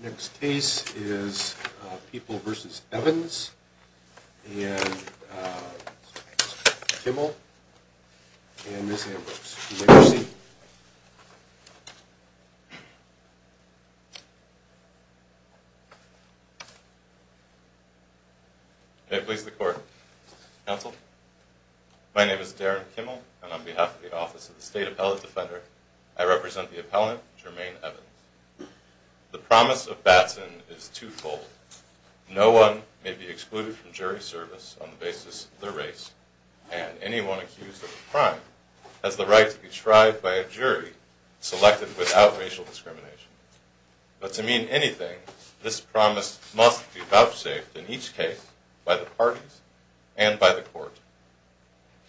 Next case is People v. Evans and Kimmel and Ms. Ambrose. May it please the court. Counsel, my name is Darren Kimmel and on behalf of the office of the state appellate defender I represent the appellant Jermaine Evans. The promise of Batson is twofold. No one may be excluded from jury service on the basis of their race and anyone accused of a crime has the right to be tried by a jury selected without racial discrimination. But to mean anything this promise must be vouchsafed in each case by the parties and by the court.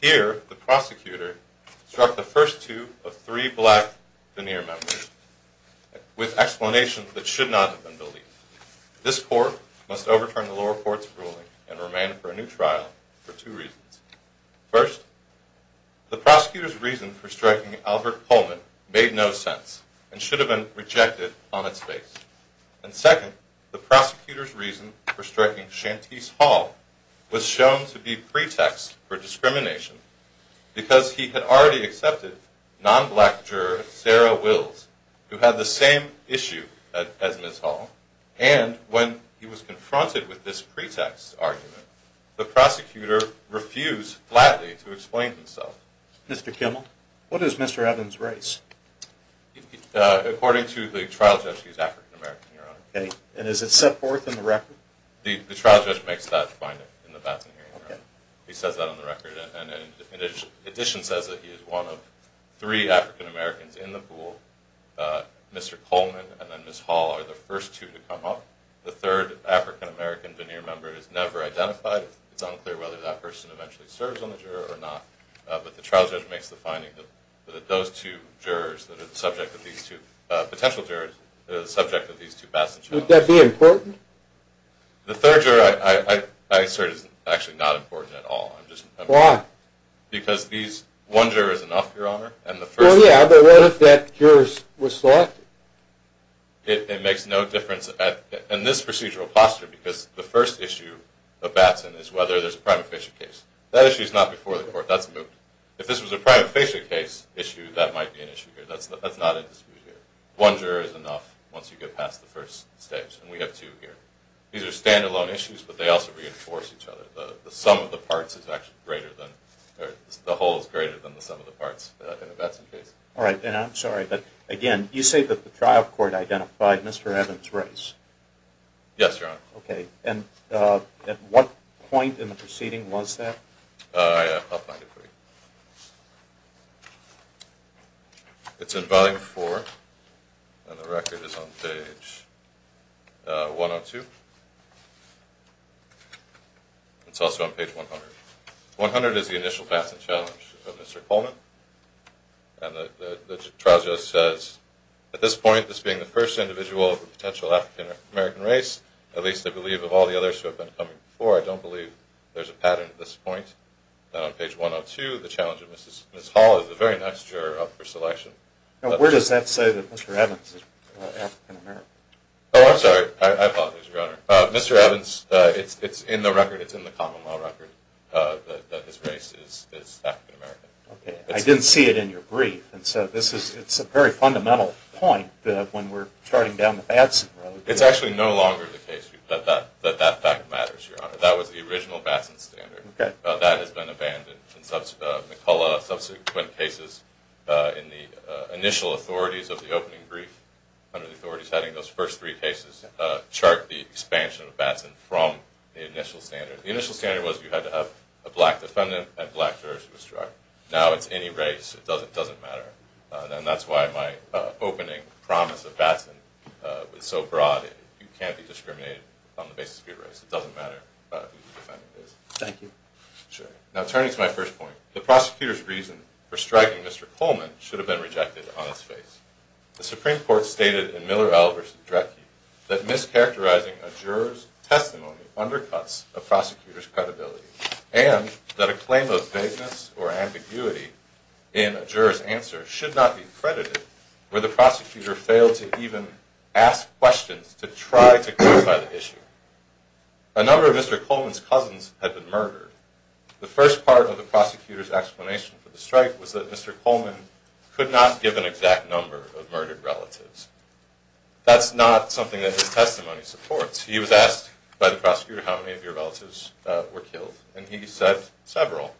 Here the prosecutor struck the first two of three black veneer members with explanations that should not have been believed. This court must overturn the lower court's ruling and remain for a new trial for two reasons. First, the prosecutor's reason for striking Albert Pullman made no sense and should have been rejected on its face. And second, the prosecutor's reason for striking Shantese Hall was shown to be pretext for discrimination because he had already accepted non-black juror Sarah Wills who had the same issue as Ms. Hall and when he was confronted with this pretext argument the prosecutor refused flatly to explain himself. Mr. Kimmel, what is Mr. Evans race? According to the trial judge he's African American your honor. Okay and is it set forth in the record? The trial judge makes that finding in the Batson hearing room. He says that on the record and in addition says that he is one of three African Americans in the pool. Mr. Coleman and then Ms. Hall are the first two to come up. The third African American veneer member is never identified. It's unclear whether that person eventually serves on the juror or not but the trial judge makes the finding that those two jurors that are the subject of these two potential jurors they're the subject of these two Batson hearings. One juror is actually not important at all. Why? Because one juror is enough your honor. Oh yeah but what if that juror was selected? It makes no difference in this procedural posture because the first issue of Batson is whether there's a prima facie case. That issue is not before the court. That's moved. If this was a prima facie case issue that might be an issue here. That's not at dispute here. One juror is enough once you get past the first stage and we have two here. These are standalone issues but they also reinforce each other. The sum of the parts is actually greater than or the whole is greater than the sum of the parts in the Batson case. All right and I'm sorry but again you say that the trial court identified Mr. Evans race. Yes your honor. Okay and at what point in the proceeding was that? I'll find it for you. It's in volume four and the record is on page 102. It's also on page 100. 100 is the initial Batson challenge of Mr. Coleman and the trial just says at this point this being the first individual of the potential African-American race at least I believe of all the others who have been coming before I don't believe there's a pattern at this Ms. Hall is a very nice juror up for selection. Now where does that say that Mr. Evans is African-American? Oh I'm sorry I apologize your honor. Mr. Evans it's it's in the record it's in the common law record that this race is African-American. Okay I didn't see it in your brief and so this is it's a very fundamental point that when we're starting down the Batson road. It's actually no longer the case that that that fact matters your honor. That was the subsequent cases in the initial authorities of the opening brief under the authorities having those first three cases chart the expansion of Batson from the initial standard. The initial standard was you had to have a black defendant and black jurors to instruct. Now it's any race it doesn't doesn't matter and that's why my opening promise of Batson was so broad. You can't be discriminated on the basis of your race. It doesn't matter who the defendant is. Thank you. Now turning to my first point the prosecutor's reason for striking Mr. Coleman should have been rejected on its face. The Supreme Court stated in Miller L versus Drecke that mischaracterizing a juror's testimony undercuts a prosecutor's credibility and that a claim of vagueness or ambiguity in a juror's answer should not be credited where the prosecutor failed to even ask questions to try to clarify the issue. A number of Mr. Coleman's cousins had been murdered. The first part of the prosecutor's explanation for the strike was that Mr. Coleman could not give an exact number of murdered relatives. That's not something that his testimony supports. He was asked by the prosecutor how many of your relatives were killed and he said several.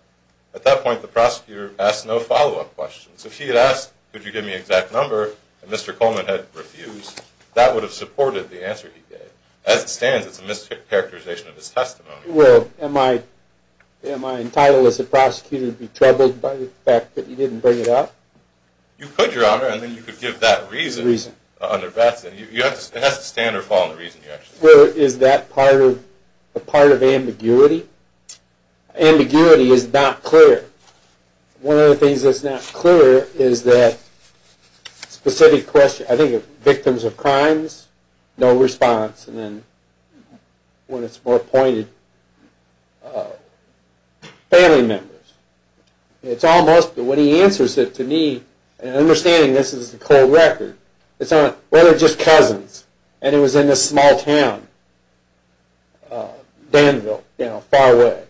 At that point the prosecutor asked no follow-up questions. If he had asked could you give me exact number and Mr. Coleman had refused that would have supported the answer he gave. As it stands it's a mischaracterization of his testimony. Well am I entitled as a prosecutor to be troubled by the fact that you didn't bring it up? You could your honor and then you could give that reason under Batson. It has to stand or fall on the reason you actually said. Is that part of ambiguity? Ambiguity is not clear. One of the things that's not clear is that specific question. I think victims of crimes no response and then when it's more pointed family members. It's almost when he answers it to me and understanding this is the cold record. It's not whether just cousins and it was in this small town Danville you know far away.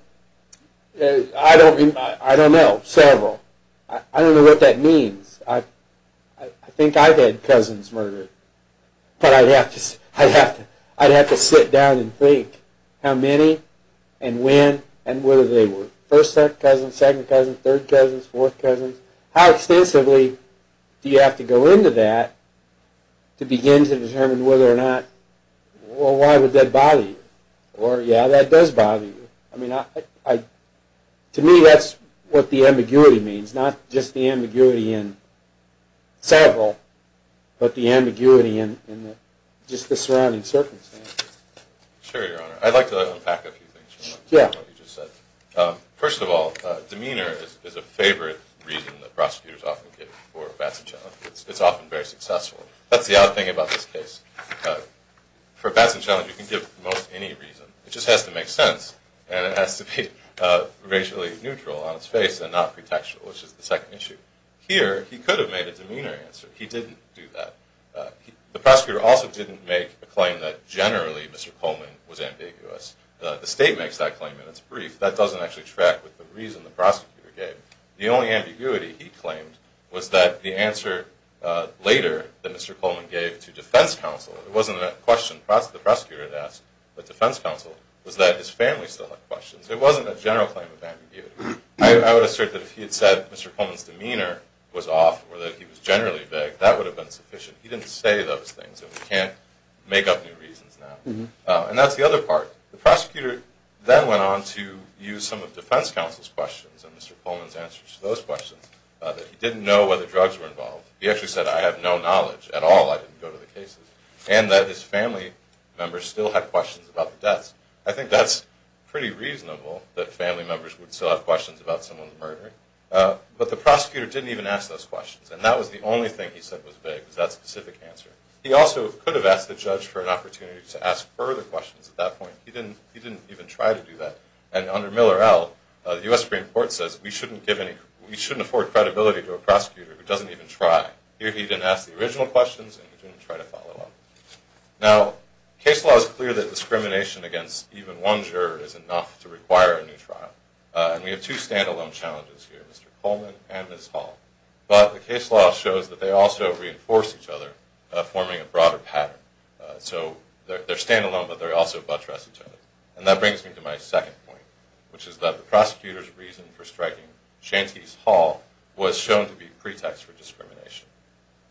I don't know several. I don't know what that means. I think I've had cousins murdered but I'd have to sit down and think how many and when and whether they were first cousin, second cousin, third cousins, fourth cousins. How extensively do you have to go into that to begin to determine whether or not well why would that bother you or yeah that does bother you. I mean to me that's what the ambiguity means. Not just the ambiguity in several but the ambiguity in just the surrounding circumstances. Sure your honor. I'd like to unpack a few things. Yeah. What you just said. First of all demeanor is a favorite reason that prosecutors often give for Batson Challenge. It's often very successful. That's the other thing about this case. For Batson Challenge you can give most any reason. It just has to make sense and it has to be racially neutral on its face and not pretextual which is the second issue. Here he could have made a demeanor answer. He didn't do that. The prosecutor also didn't make a claim that generally Mr. Coleman was ambiguous. The state makes that claim and it's brief. That doesn't actually track with the reason the prosecutor gave. The only ambiguity he claimed was that the answer later that Mr. Coleman gave to defense counsel. It wasn't a question the prosecutor had asked but defense counsel was that his family still had questions. It wasn't a general claim of ambiguity. I would assert that if he had said Mr. Coleman's demeanor was off or that he was generally vague that would have been sufficient. He didn't say those things and we can't make up new reasons now. And that's the other part. The prosecutor then went on to use some of defense counsel's questions and Mr. Coleman's answers to those questions that he didn't know whether drugs were involved. He actually said I have no knowledge at all. I still have questions about the deaths. I think that's pretty reasonable that family members would still have questions about someone's murder. But the prosecutor didn't even ask those questions and that was the only thing he said was vague was that specific answer. He also could have asked the judge for an opportunity to ask further questions at that point. He didn't even try to do that. And under Miller L, the U.S. Supreme Court says we shouldn't give any, we shouldn't afford credibility to a prosecutor who doesn't even try. Here he didn't ask the original questions and he didn't try to follow up. Now case law is clear that discrimination against even one juror is enough to require a new trial. And we have two standalone challenges here, Mr. Coleman and Ms. Hall. But the case law shows that they also reinforce each other, forming a broader pattern. So they're standalone but they also buttress each other. And that brings me to my second point, which is that the prosecutor's reason for striking Shantese Hall was shown to be pretext for discrimination.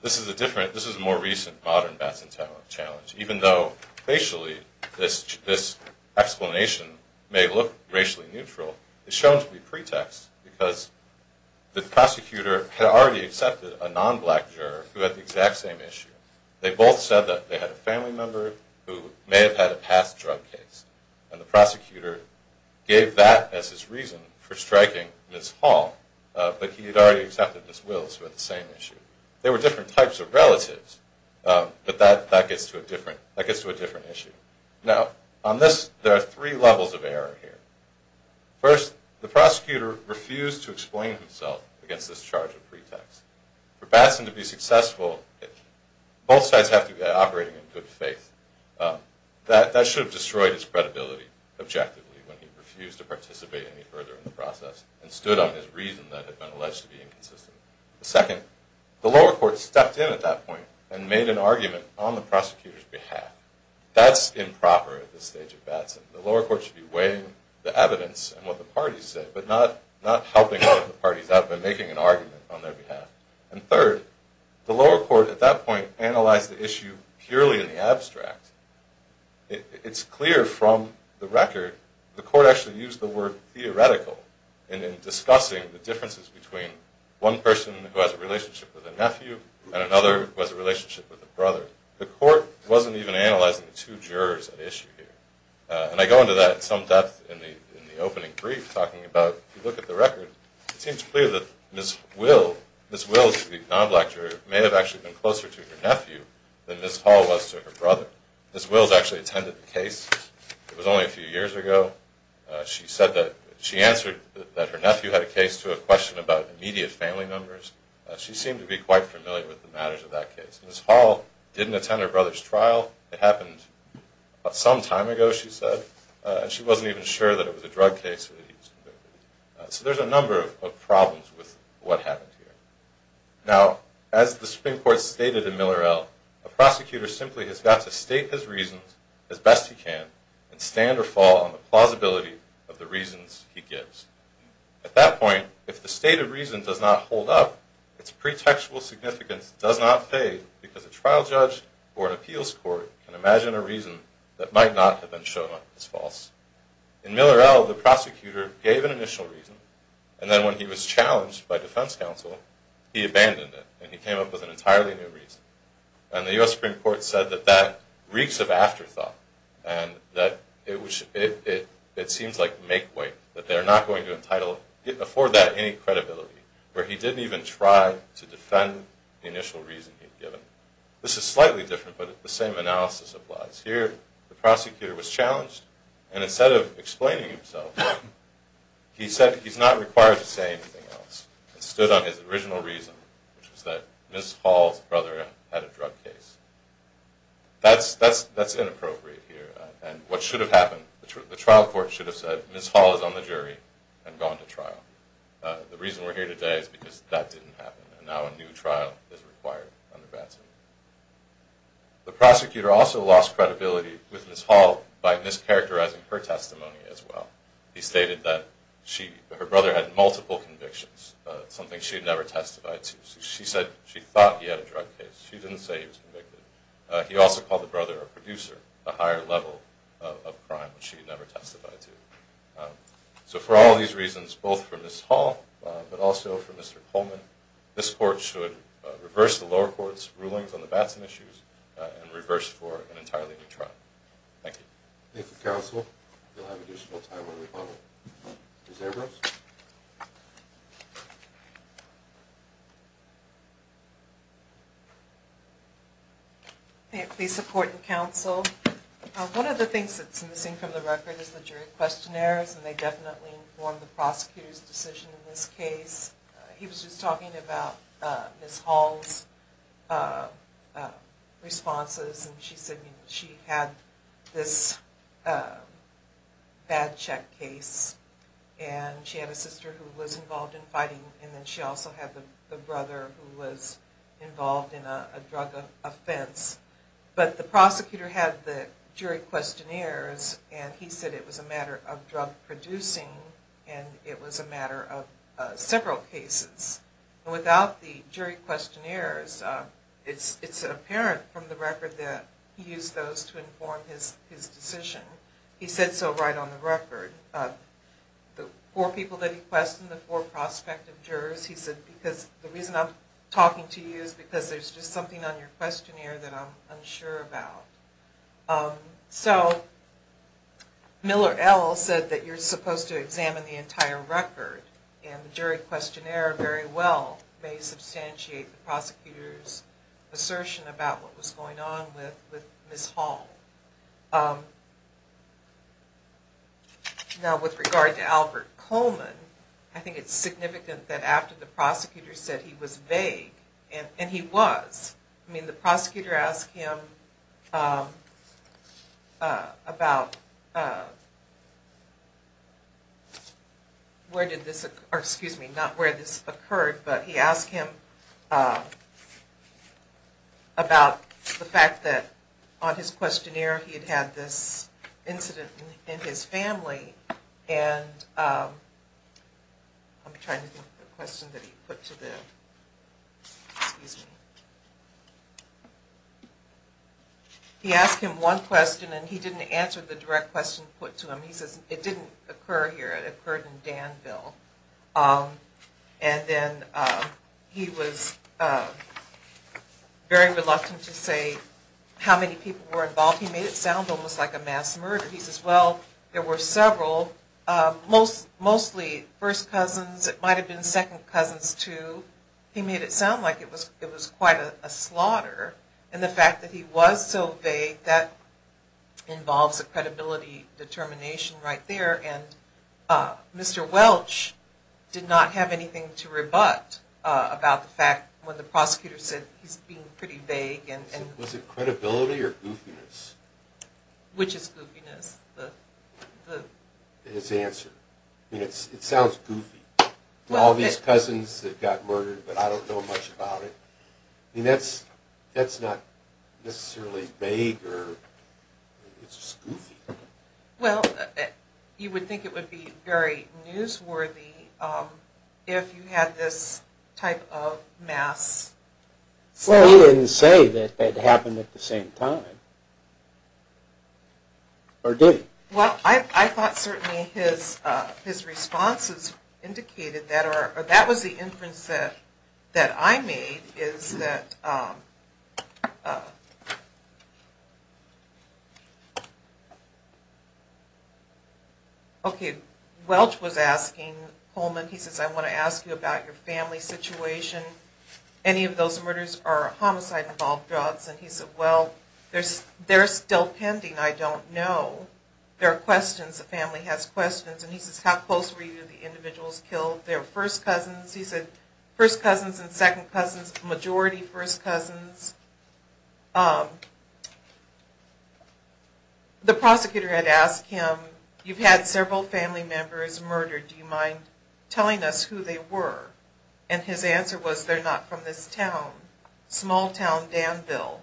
This is a different, this is a more recent modern Bats and Talons challenge. Even though facially this explanation may look racially neutral, it's shown to be pretext because the prosecutor had already accepted a non-black juror who had the exact same issue. They both said that they had a family member who may have had a past drug case and the prosecutor gave that as his reason for striking Ms. Hall, but he had already accepted Ms. Wills who had the same issue. They were different types of relatives, but that gets to a different issue. Now on this, there are three levels of error here. First, the prosecutor refused to explain himself against this charge of pretext. For Batson to be successful, both sides have to be operating in good faith. That should have destroyed his process and stood on his reason that had been alleged to be inconsistent. Second, the lower court stepped in at that point and made an argument on the prosecutor's behalf. That's improper at this stage of Batson. The lower court should be weighing the evidence and what the parties say, but not helping the parties out by making an argument on their behalf. And third, the lower court at that point analyzed the issue purely in the abstract. It's clear from the record the court actually used the word theoretical in discussing the differences between one person who has a relationship with a nephew and another who has a relationship with a brother. The court wasn't even analyzing the two jurors at issue here. And I go into that in some depth in the opening brief talking about if you look at the record, it seems clear that Ms. Wills, the non-black juror, may have actually been closer to her nephew than Ms. Hall was to her brother. Ms. Wills answered that her nephew had a case to a question about immediate family numbers. She seemed to be quite familiar with the matters of that case. Ms. Hall didn't attend her brother's trial. It happened some time ago, she said, and she wasn't even sure that it was a drug case. So there's a number of problems with what happened here. Now, as the Supreme Court stated in Miller best he can and stand or fall on the plausibility of the reasons he gives. At that point, if the state of reason does not hold up, its pretextual significance does not fade because a trial judge or an appeals court can imagine a reason that might not have been shown as false. In Miller L., the prosecutor gave an initial reason, and then when he was challenged by defense counsel, he abandoned it and he came up with an entirely new reason. And the U.S. Supreme Court said that that reeks of afterthought and that it seems like make way, that they're not going to afford that any credibility, where he didn't even try to defend the initial reason he'd given. This is slightly different, but the same analysis applies. Here, the prosecutor was challenged, and instead of explaining himself, he said he's not required to say anything else and stood on his original reason, which was that Ms. Hall's brother had a drug case. That's inappropriate here, and what should have happened, the trial court should have said, Ms. Hall is on the jury and gone to trial. The reason we're here today is because that didn't happen, and now a new trial is required under Batson. The prosecutor also lost credibility with Ms. Hall by mischaracterizing her testimony as well. He stated that her brother had multiple convictions, something she had never testified to. She said she thought he had a drug case. She didn't say he was convicted. He also called the brother a producer, a higher level of crime, which she had never testified to. So for all these reasons, both for Ms. Hall, but also for Mr. Coleman, this court should reverse the lower court's rulings on the Batson issues and reverse for an entirely new trial. Thank you. Thank you counsel. You'll have additional time on the rebuttal. Ms. Abrams. May I please support the counsel? One of the things that's missing from the record is the jury questionnaires, and they definitely inform the prosecutor's decision in this case. He was just talking about Ms. Hall's responses, and she said she had this bad check case, and she had a sister who was involved in fighting, and then she also had the brother who was involved in a drug offense. But the prosecutor had the jury questionnaires, and he said it was a matter of drug producing, and it was a matter of several cases. Without the jury questionnaires, it's apparent from the record that he used those to inform his decision. He said so right on the record. The four people that he questioned, the four prospective jurors, he said because the reason I'm talking to you is because there's just something on your questionnaire that I'm unsure about. So Miller L. said that you're supposed to examine the entire record, and the jury questionnaire very well may substantiate the prosecutor's assertion about what was going on with Ms. Hall. Now with regard to Albert Coleman, I think it's significant that after the prosecutor said he was vague, and he was. I mean the prosecutor asked him about where did this, or excuse me, not where this occurred, but he asked him about the fact that on his questionnaire he had had this incident in his family, and I'm trying to think of the question that he put to the, excuse me. He asked him one question, and he didn't answer the direct question put to him. He says it didn't occur here. It occurred in Danville, and then he was very reluctant to say how many people were involved. He made it sound almost like a mass murder. He says, well, there were several, mostly first cousins. It might have been second cousins too. He made it sound like it was quite a slaughter, and the fact that he was so vague, that involves a credibility determination right there, and Mr. Welch did not have anything to rebut about the fact when the his answer. I mean it sounds goofy. All these cousins that got murdered, but I don't know much about it. I mean that's not necessarily vague, or it's just goofy. Well, you would think it would be very newsworthy if you had this type of mass. Well, he didn't say that it happened at the same time, or did he? Well, I thought certainly his responses indicated that, or that was the inference that I made, is that, okay, Welch was asking Holman, he says, I want to ask you about your family situation. Any of those murders are homicide-involved drugs, and he said, well, they're still pending. I don't know. There are questions. The family has questions, and he says, how close were you to the individuals killed? They're first cousins. He said, first cousins and second cousins, majority first cousins. The prosecutor had asked him, you've had several family members murdered. Do you mind telling us who they were? And his answer was, they're not from this town, small town Danville.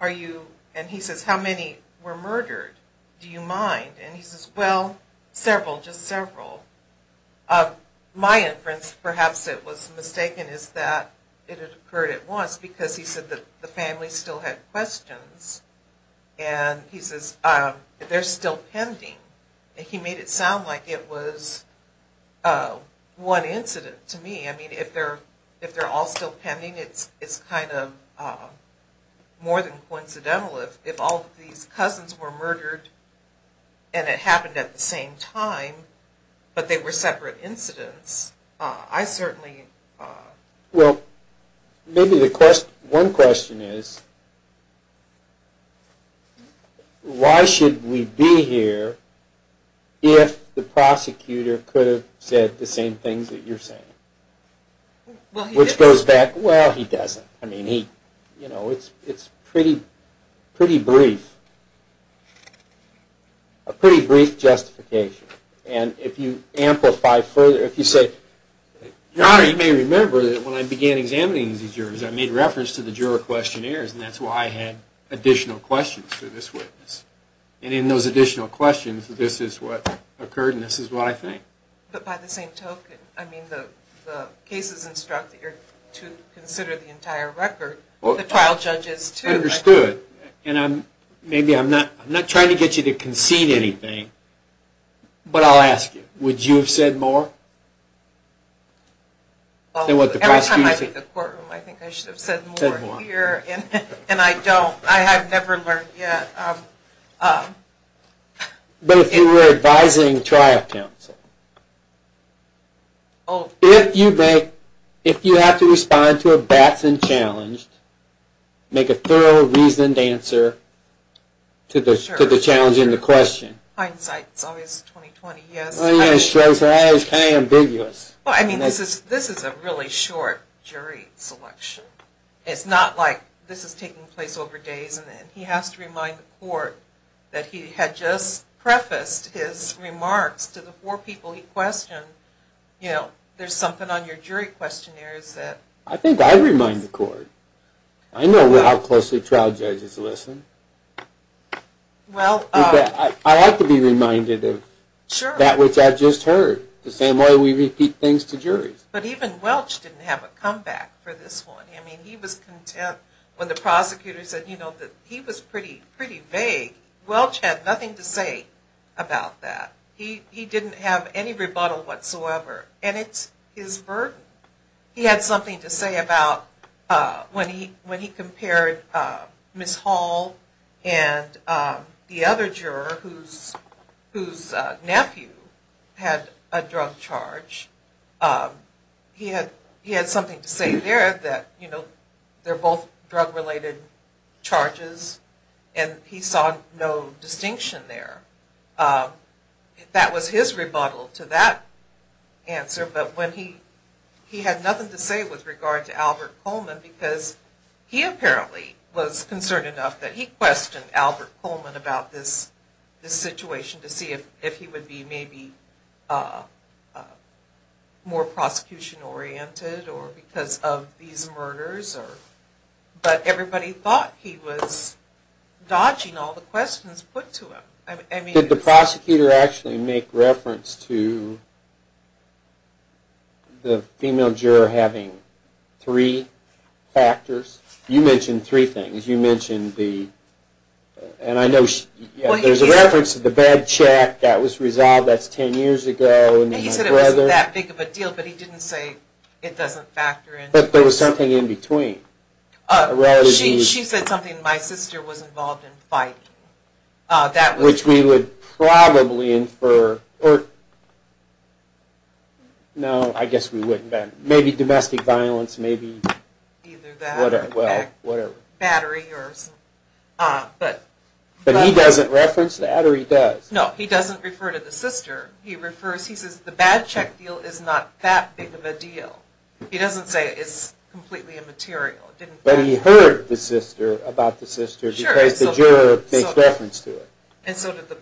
Are you, and he says, how many were murdered? Do you mind? And he says, well, several, just several. My inference, perhaps it was mistaken, is that it occurred at the same time, because he said that the family still had questions, and he says, they're still pending, and he made it sound like it was one incident to me. I mean, if they're all still pending, it's kind of more than coincidental. If all of these cousins were murdered, and it happened at the same time, but they were separate incidents, I certainly... Well, maybe the question, one question is, why should we be here if the prosecutor could have said the same things that you're saying? Which goes back, well, he doesn't. I mean, he, you know, it's pretty, pretty brief. A pretty brief justification, and if you amplify further, if you say, your honor, you may remember that when I began examining these jurors, I made reference to the juror questionnaires, and that's why I had additional questions to this witness, and in those additional questions, this is what occurred, and this is what I think. But by the same token, I mean, the cases instruct that you're to consider the entire record, the trial judges too. I understood, and I'm, maybe I'm not, I'm not trying to get you to concede anything, but I'll ask you, would you have said more? Well, every time I've been to the courtroom, I think I should have said more here, and I don't, I have never learned yet. But if you were advising trial counsel, if you have to respond to a Batson challenge, make a thorough, reasoned answer to the, to the challenge in the question. Hindsight is always 20-20, yes. Oh yeah, it's kind of ambiguous. Well, I mean, this is, this is a really short jury selection. It's not like this is taking place over days, and then he has to remind the court that he had just prefaced his remarks to the four people he questioned. You know, there's something on your jury questionnaires that... I think I remind the court. I know how closely trial judges listen. Well... I like to be reminded of that which I just heard, the same way we repeat things to juries. But even Welch didn't have a comeback for this one. I mean, he was content when the prosecutor said, you know, that he was pretty, pretty vague. Welch had nothing to say about that. He, he didn't have any rebuttal whatsoever, and it's his burden. He had something to say about when he, when he compared Ms. Hall and the other juror whose, whose nephew had a drug charge. He had, he had something to say there that, you know, they're both drug-related charges, and he saw no distinction there. That was his rebuttal to that answer, but when he, he had nothing to say with regard to Albert Coleman because he apparently was concerned enough that he questioned Albert Coleman about this, this situation to see if, if he would be maybe more prosecution-oriented or because of these murders or... But everybody thought he was dodging all the questions put to him. I mean... Did the prosecutor actually make reference to the female juror having three factors? You mentioned three things. You mentioned the, and I know she, there's a reference to the bed check that was resolved, that's 10 years ago, and then my brother... He said it wasn't that big of a deal, but he didn't say it doesn't factor in... But there was something in between. She, she said something, my sister was involved in fighting. Uh, that was... Which we would probably infer, or... No, I guess we wouldn't, then. Maybe domestic violence, maybe... Either that, or battery, or... But he doesn't reference that, or he does? No, he doesn't refer to the sister. He refers, he says the bed check deal is not that big of a deal. He doesn't say it's completely immaterial. But he heard the sister, about the sister, because the juror makes reference to it. And so did the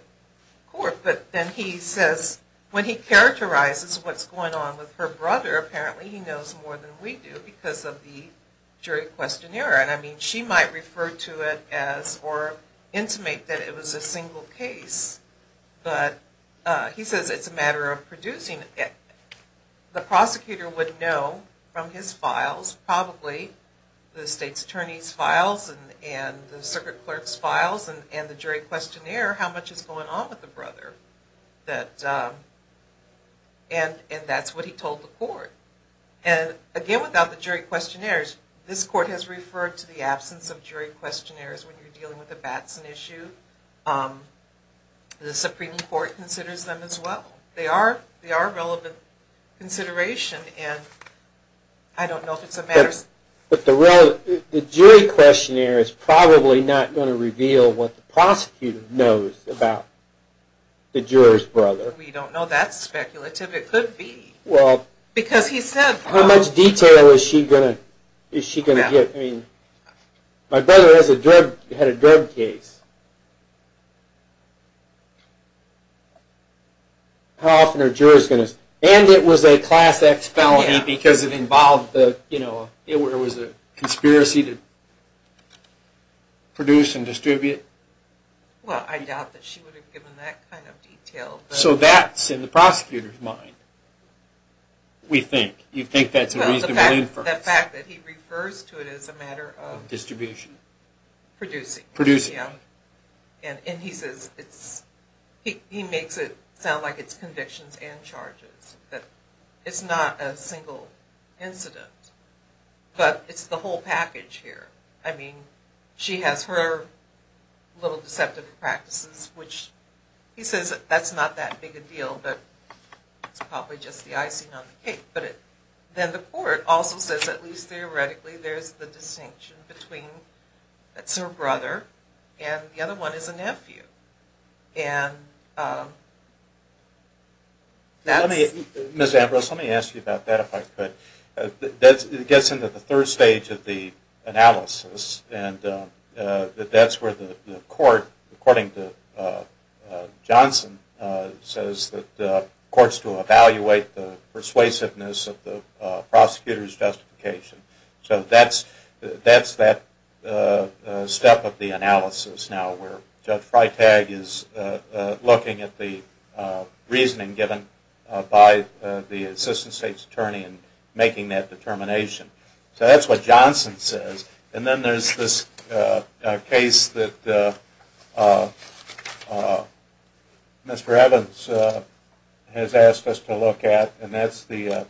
court, but then he says, when he characterizes what's going on with her brother, apparently he knows more than we do, because of the jury questionnaire. And I mean, she might refer to it as, or intimate that it was a single case, but he says it's a matter of producing it. The prosecutor would know from his files, probably the state's attorney's files, and the jury questionnaire, how much is going on with the brother. That, and that's what he told the court. And again, without the jury questionnaires, this court has referred to the absence of jury questionnaires when you're dealing with a Batson issue. The Supreme Court considers them as well. They are, they are relevant consideration, and I don't know if it's a matter... But the real, the jury questionnaire is probably not going to reveal what the prosecutor knows about the juror's brother. We don't know. That's speculative. It could be. Well, because he said... How much detail is she going to, is she going to get? I mean, my brother has a drug, had a drug case. How often are jurors going to... And it was a class X felony, because it involved the, you know, it was a conspiracy to produce and distribute. Well, I doubt that she would have given that kind of detail. So that's in the prosecutor's mind, we think. You think that's a reasonable inference. The fact that he refers to it as a matter of... Distribution. Producing. Producing. Yeah. And he says it's, he makes it sound like it's convictions and charges. That it's not a single incident. But it's the whole package here. I mean, she has her little deceptive practices, which he says that's not that big a deal, but it's probably just the icing on the cake. But then the court also says, at least theoretically, there's the distinction between, that's her brother, and the other one is her nephew. And that's... Let me, Ms. Ambrose, let me ask you about that, if I could. That gets into the third stage of the analysis, and that's where the court, according to Johnson, says that the court's to evaluate the persuasiveness of the prosecutor's justification. So that's that step of the analysis now, where Judge Freitag is looking at the reasoning given by the assistant state's attorney in making that determination. So that's what Johnson says. And then there's this case that Mr. Evans has asked us to look at, and that's the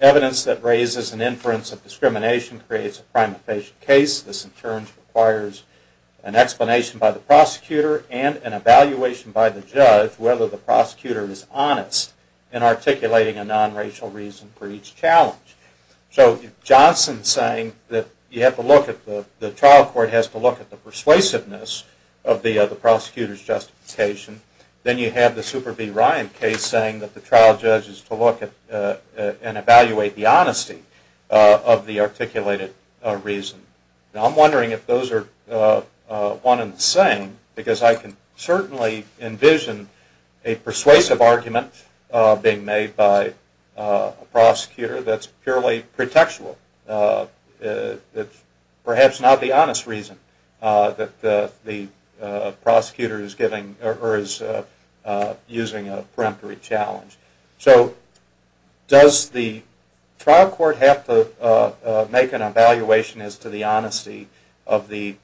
evidence that raises an inference of discrimination creates a primifacious case. This in turn requires an explanation by the prosecutor and an evaluation by the judge whether the prosecutor is honest in articulating a non-racial reason for each challenge. So if Johnson's saying that you have to look at the, the trial court has to look at the persuasiveness of the prosecutor's justification, then you have the Superbee Ryan case saying that the trial judge is to look at and evaluate the honesty of the articulated reason. Now I'm wondering if those are one and the same, because I can certainly envision a persuasive argument being made by a prosecutor that's purely pretextual, that's perhaps not the honest reason that the prosecutor is giving or is using a peremptory challenge. So does the trial court have to make an evaluation as to the honesty of the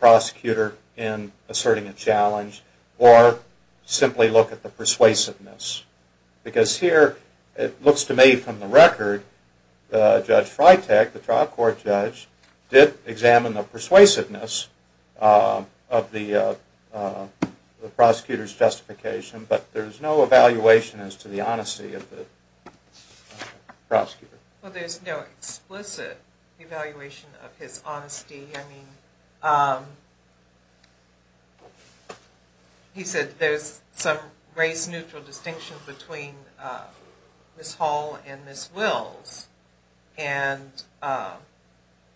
prosecutor in asserting a challenge, or simply look at the persuasiveness? Because here it looks to me from the record, Judge Freitag, the trial court judge, did examine the persuasiveness of the prosecutor's justification, but there's no evaluation as to the honesty of the prosecutor. Well there's no explicit evaluation of his honesty. I mean he said there's some race-neutral distinctions between Ms. Hall and Ms. Wills, and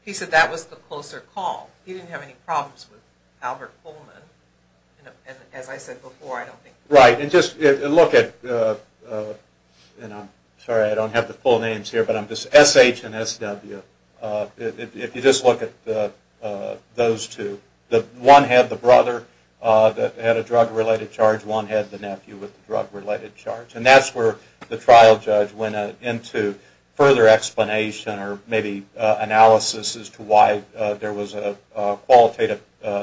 he said that was the closer call. He didn't have any problems with Albert Pullman, and as I said before, I don't think... Right, and just look at, and I'm sorry I don't have the full names here, but I'm just, S.H. and S.W., if you just look at those two, one had the brother that had a drug-related charge, one had the nephew with the drug-related charge, and that's where the trial judge went into further explanation or maybe analysis as to why there was a qualitative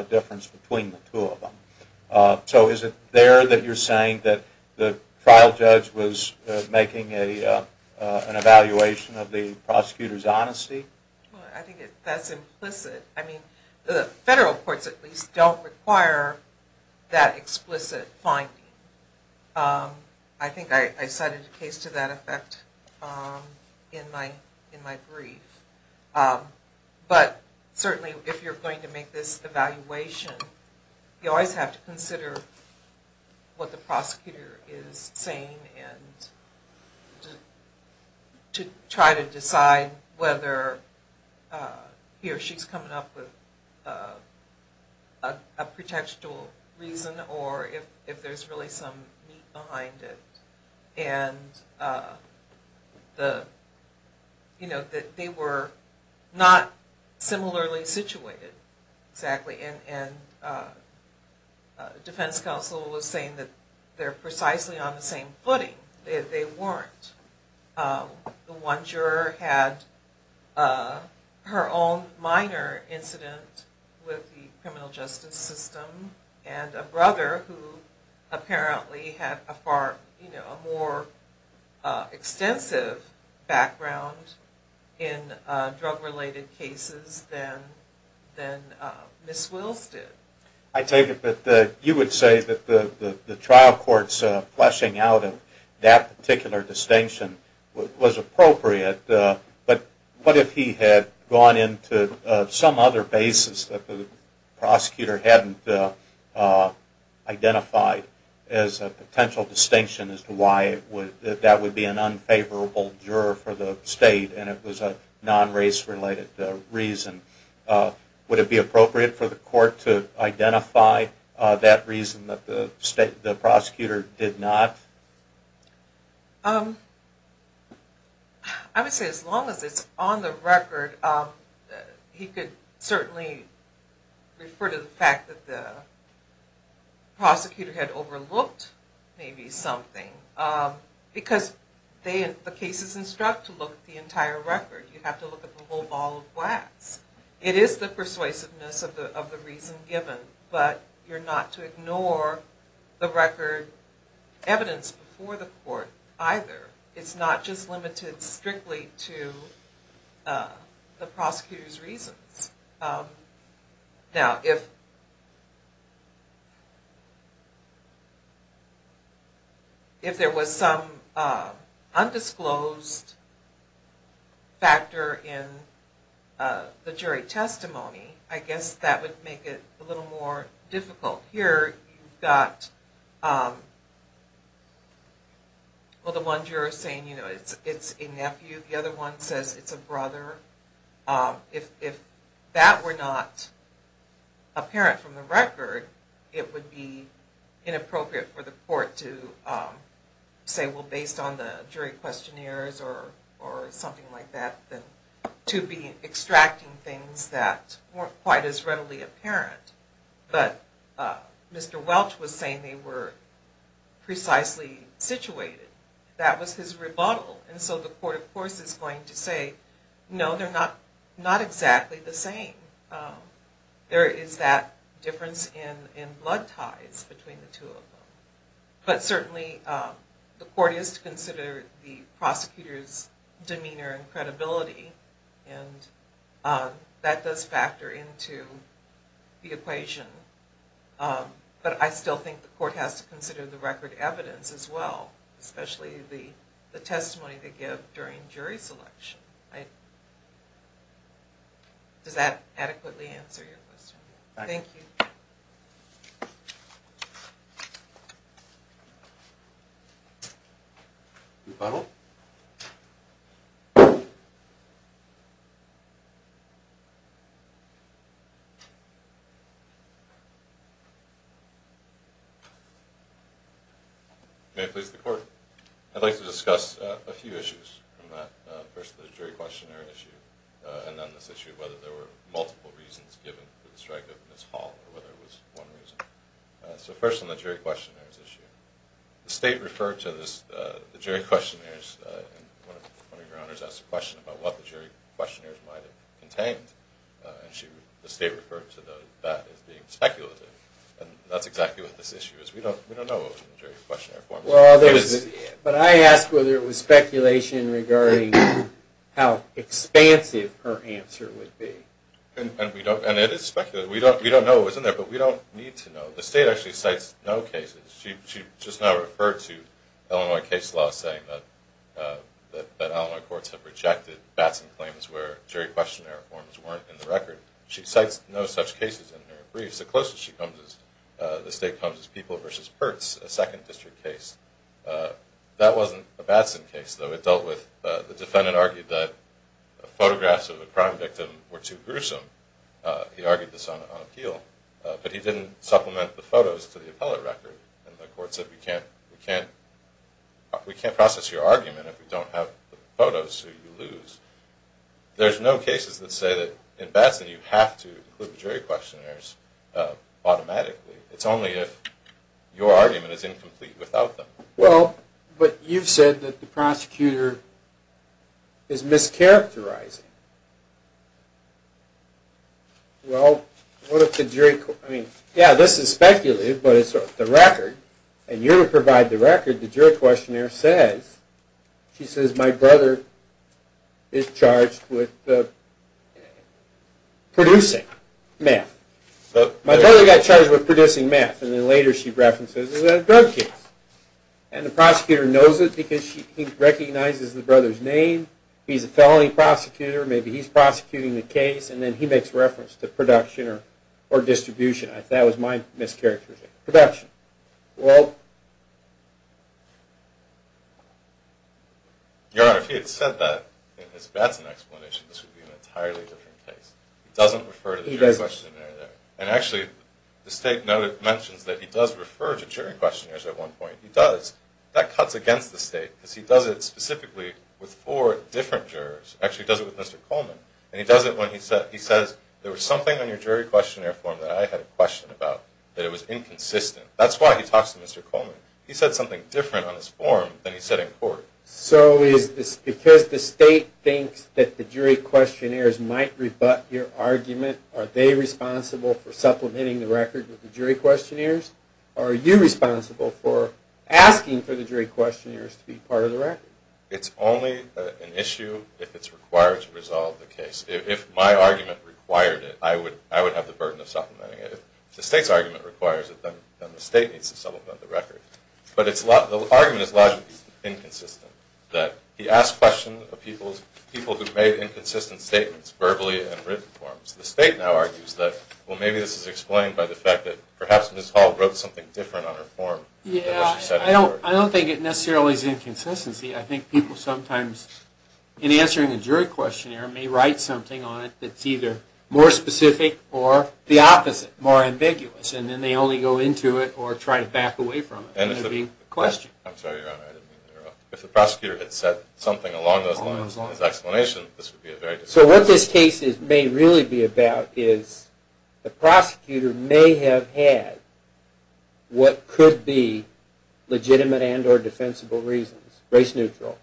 difference between the two of them. So is it there that you're saying that the trial judge was making an evaluation of the prosecutor? I think that's implicit. I mean the federal courts at least don't require that explicit finding. I think I cited a case to that effect in my brief, but certainly if you're going to make this evaluation, you always have to consider what the prosecutor is saying and just to try to decide whether he or she's coming up with a pretextual reason or if there's really some meat behind it, and the, you know, that they were not similarly situated exactly, and the defense counsel was saying that they're precisely on the same footing. They weren't. The one juror had her own minor incident with the criminal justice system and a brother who apparently had a far, you know, a more extensive background in drug-related cases than Ms. Wills did. I take it that you would say that the trial court's fleshing out of that particular distinction was appropriate, but what if he had gone into some other basis that the prosecutor hadn't identified as a potential distinction as to why that would be an unfavorable juror for the state and it was a non-race-related reason? Would it be appropriate for the court to identify that reason that the prosecutor did not? I would say as long as it's on the record, he could certainly refer to the fact that the prosecutor had overlooked maybe something because they, the cases instruct to look at the entire record. You have to look at the whole ball of wax. It is the persuasiveness of the reason given, but you're not to ignore the record evidence before the court either. It's not just limited strictly to the prosecutor's reasons. Now, if if there was some undisclosed factor in the jury testimony, I guess that would make it a little more difficult. Here you've got, well, the one juror saying, you know, it's a nephew. The other one says it's a brother. If that were not apparent from the record, it would be inappropriate for the court to say, well, based on the jury questionnaires or something like that, to be extracting things that weren't quite as readily apparent. But Mr. Welch was saying they precisely situated. That was his rebuttal. And so the court, of course, is going to say, no, they're not exactly the same. There is that difference in blood ties between the two of them. But certainly the court is to consider the prosecutor's demeanor and credibility. And that does factor into the equation. But I still think the court has to consider the record evidence as well, especially the testimony they give during jury selection. Does that adequately answer your question? Thank you. May it please the court. I'd like to discuss a few issues from that. First, the jury questionnaire issue, and then this issue of whether there were multiple reasons given for the strike of Ms. Hall or whether it was one reason. So first on the jury questionnaires issue, the state referred to the jury questionnaires. And one of your honors asked a question about what the jury questionnaires might have contained. And the state referred to that as being speculative. And that's exactly what this issue is. We don't know what was in the jury questionnaire. But I asked whether it was speculation regarding how expansive her answer would be. And it is speculative. We don't know what was in there, but we don't need to know. The state actually cites no cases. She just now referred to Illinois case law saying that Illinois courts have rejected Batson claims where jury questionnaire forms weren't in the record. She cites no such cases in her briefs. The closest the state comes is People v. Pertz, a second district case. That wasn't a Batson case, though. It dealt with the defendant argued that photographs of a crime victim were too gruesome. He argued this on appeal. But he didn't supplement the photos to the appellate record. And the court said we can't process your argument if we don't have the photos so you lose. There's no cases that say that in Batson you have to include the jury questionnaires automatically. It's only if your argument is incomplete without them. Well, but you've said that the prosecutor is mischaracterizing. Well, what if the jury, I mean, yeah, this is speculative, but it's the record. And you're going to provide the record. The jury questionnaire says, she says, my brother is charged with producing meth. My brother got charged with producing meth. And then later she references it in a drug case. And the prosecutor knows it because he recognizes the brother's name. He's a felony prosecutor. Maybe he's prosecuting the case. And then he makes reference to production or distribution. That was my mischaracterization, production. Your Honor, if he had said that in his Batson explanation, this would be an entirely different case. He doesn't refer to the jury questionnaire there. And actually, the state mentions that he does refer to jury questionnaires at one point. He does. That cuts against the state because he actually does it with Mr. Coleman. And he does it when he says, there was something on your jury questionnaire form that I had a question about, that it was inconsistent. That's why he talks to Mr. Coleman. He said something different on his form than he said in court. So is this because the state thinks that the jury questionnaires might rebut your argument? Are they responsible for supplementing the record with the jury questionnaires? Are you responsible for asking for the jury questionnaires to be part of the record? It's only an issue if it's required to resolve the case. If my argument required it, I would have the burden of supplementing it. If the state's argument requires it, then the state needs to supplement the record. But the argument is logically inconsistent, that he asked questions of people who made inconsistent statements, verbally and written forms. The state now argues that, well, maybe this is explained by the fact that perhaps Ms. Hall wrote something different on her form than she said in court. Yeah, I don't think it necessarily is inconsistency. I think people sometimes, in answering a jury questionnaire, may write something on it that's either more specific or the opposite, more ambiguous. And then they only go into it or try to back away from it. And it's a big question. I'm sorry, Your Honor, I didn't mean to interrupt. If the prosecutor had said something along those lines in his explanation, this would be a very... So what this case may really be about is the prosecutor may have had what could be legitimate and or defensible reasons, race neutral,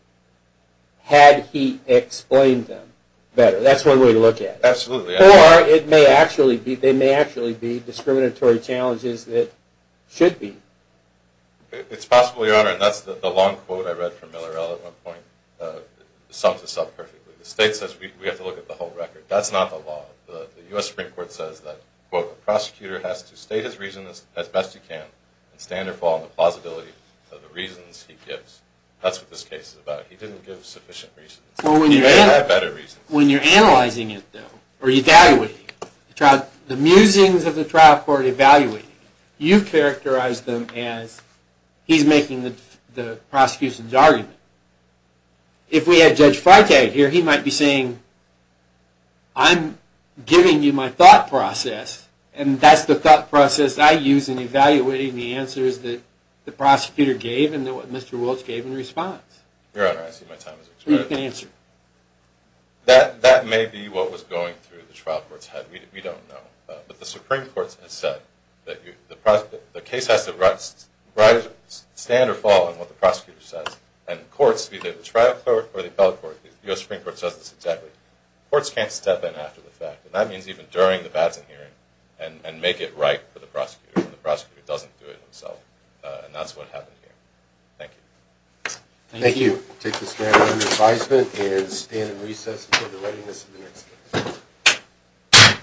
had he explained them better. That's one way to look at it. Absolutely. Or it may actually be, there may actually be discriminatory challenges that should be. It's possible, Your Honor, and that's the long quote I read from Miller-Ell at one point, sums this up perfectly. The state says we have to look at the whole record. That's not the law. The U.S. Supreme Court says that, quote, a prosecutor has to state his reason as best he can and stand or fall on the plausibility of the reasons he gives. That's what this case is about. He didn't give sufficient reasons. He may have had better reasons. When you're analyzing it, though, or evaluating it, the musings of the trial court evaluating it, you characterize them as he's making the prosecution's argument. If we had Judge Freitag here, he might be saying, I'm giving you my thought process, and that's the thought process I use in evaluating the answers that the prosecutor gave and what Mr. Wiltz gave in response. Your Honor, I see my time has expired. You can answer. That may be what was going through the trial court's head. We don't know. But the Supreme Court has said that the case has to stand or fall on what the prosecutor says, and courts, be they the trial court or the appellate court, the U.S. Supreme Court says exactly. Courts can't step in after the fact. That means even during the Batson hearing and make it right for the prosecutor when the prosecutor doesn't do it himself. And that's what happened here. Thank you. Thank you. I'll take the stand. Your advisement is stand and recess until the readiness of the next case.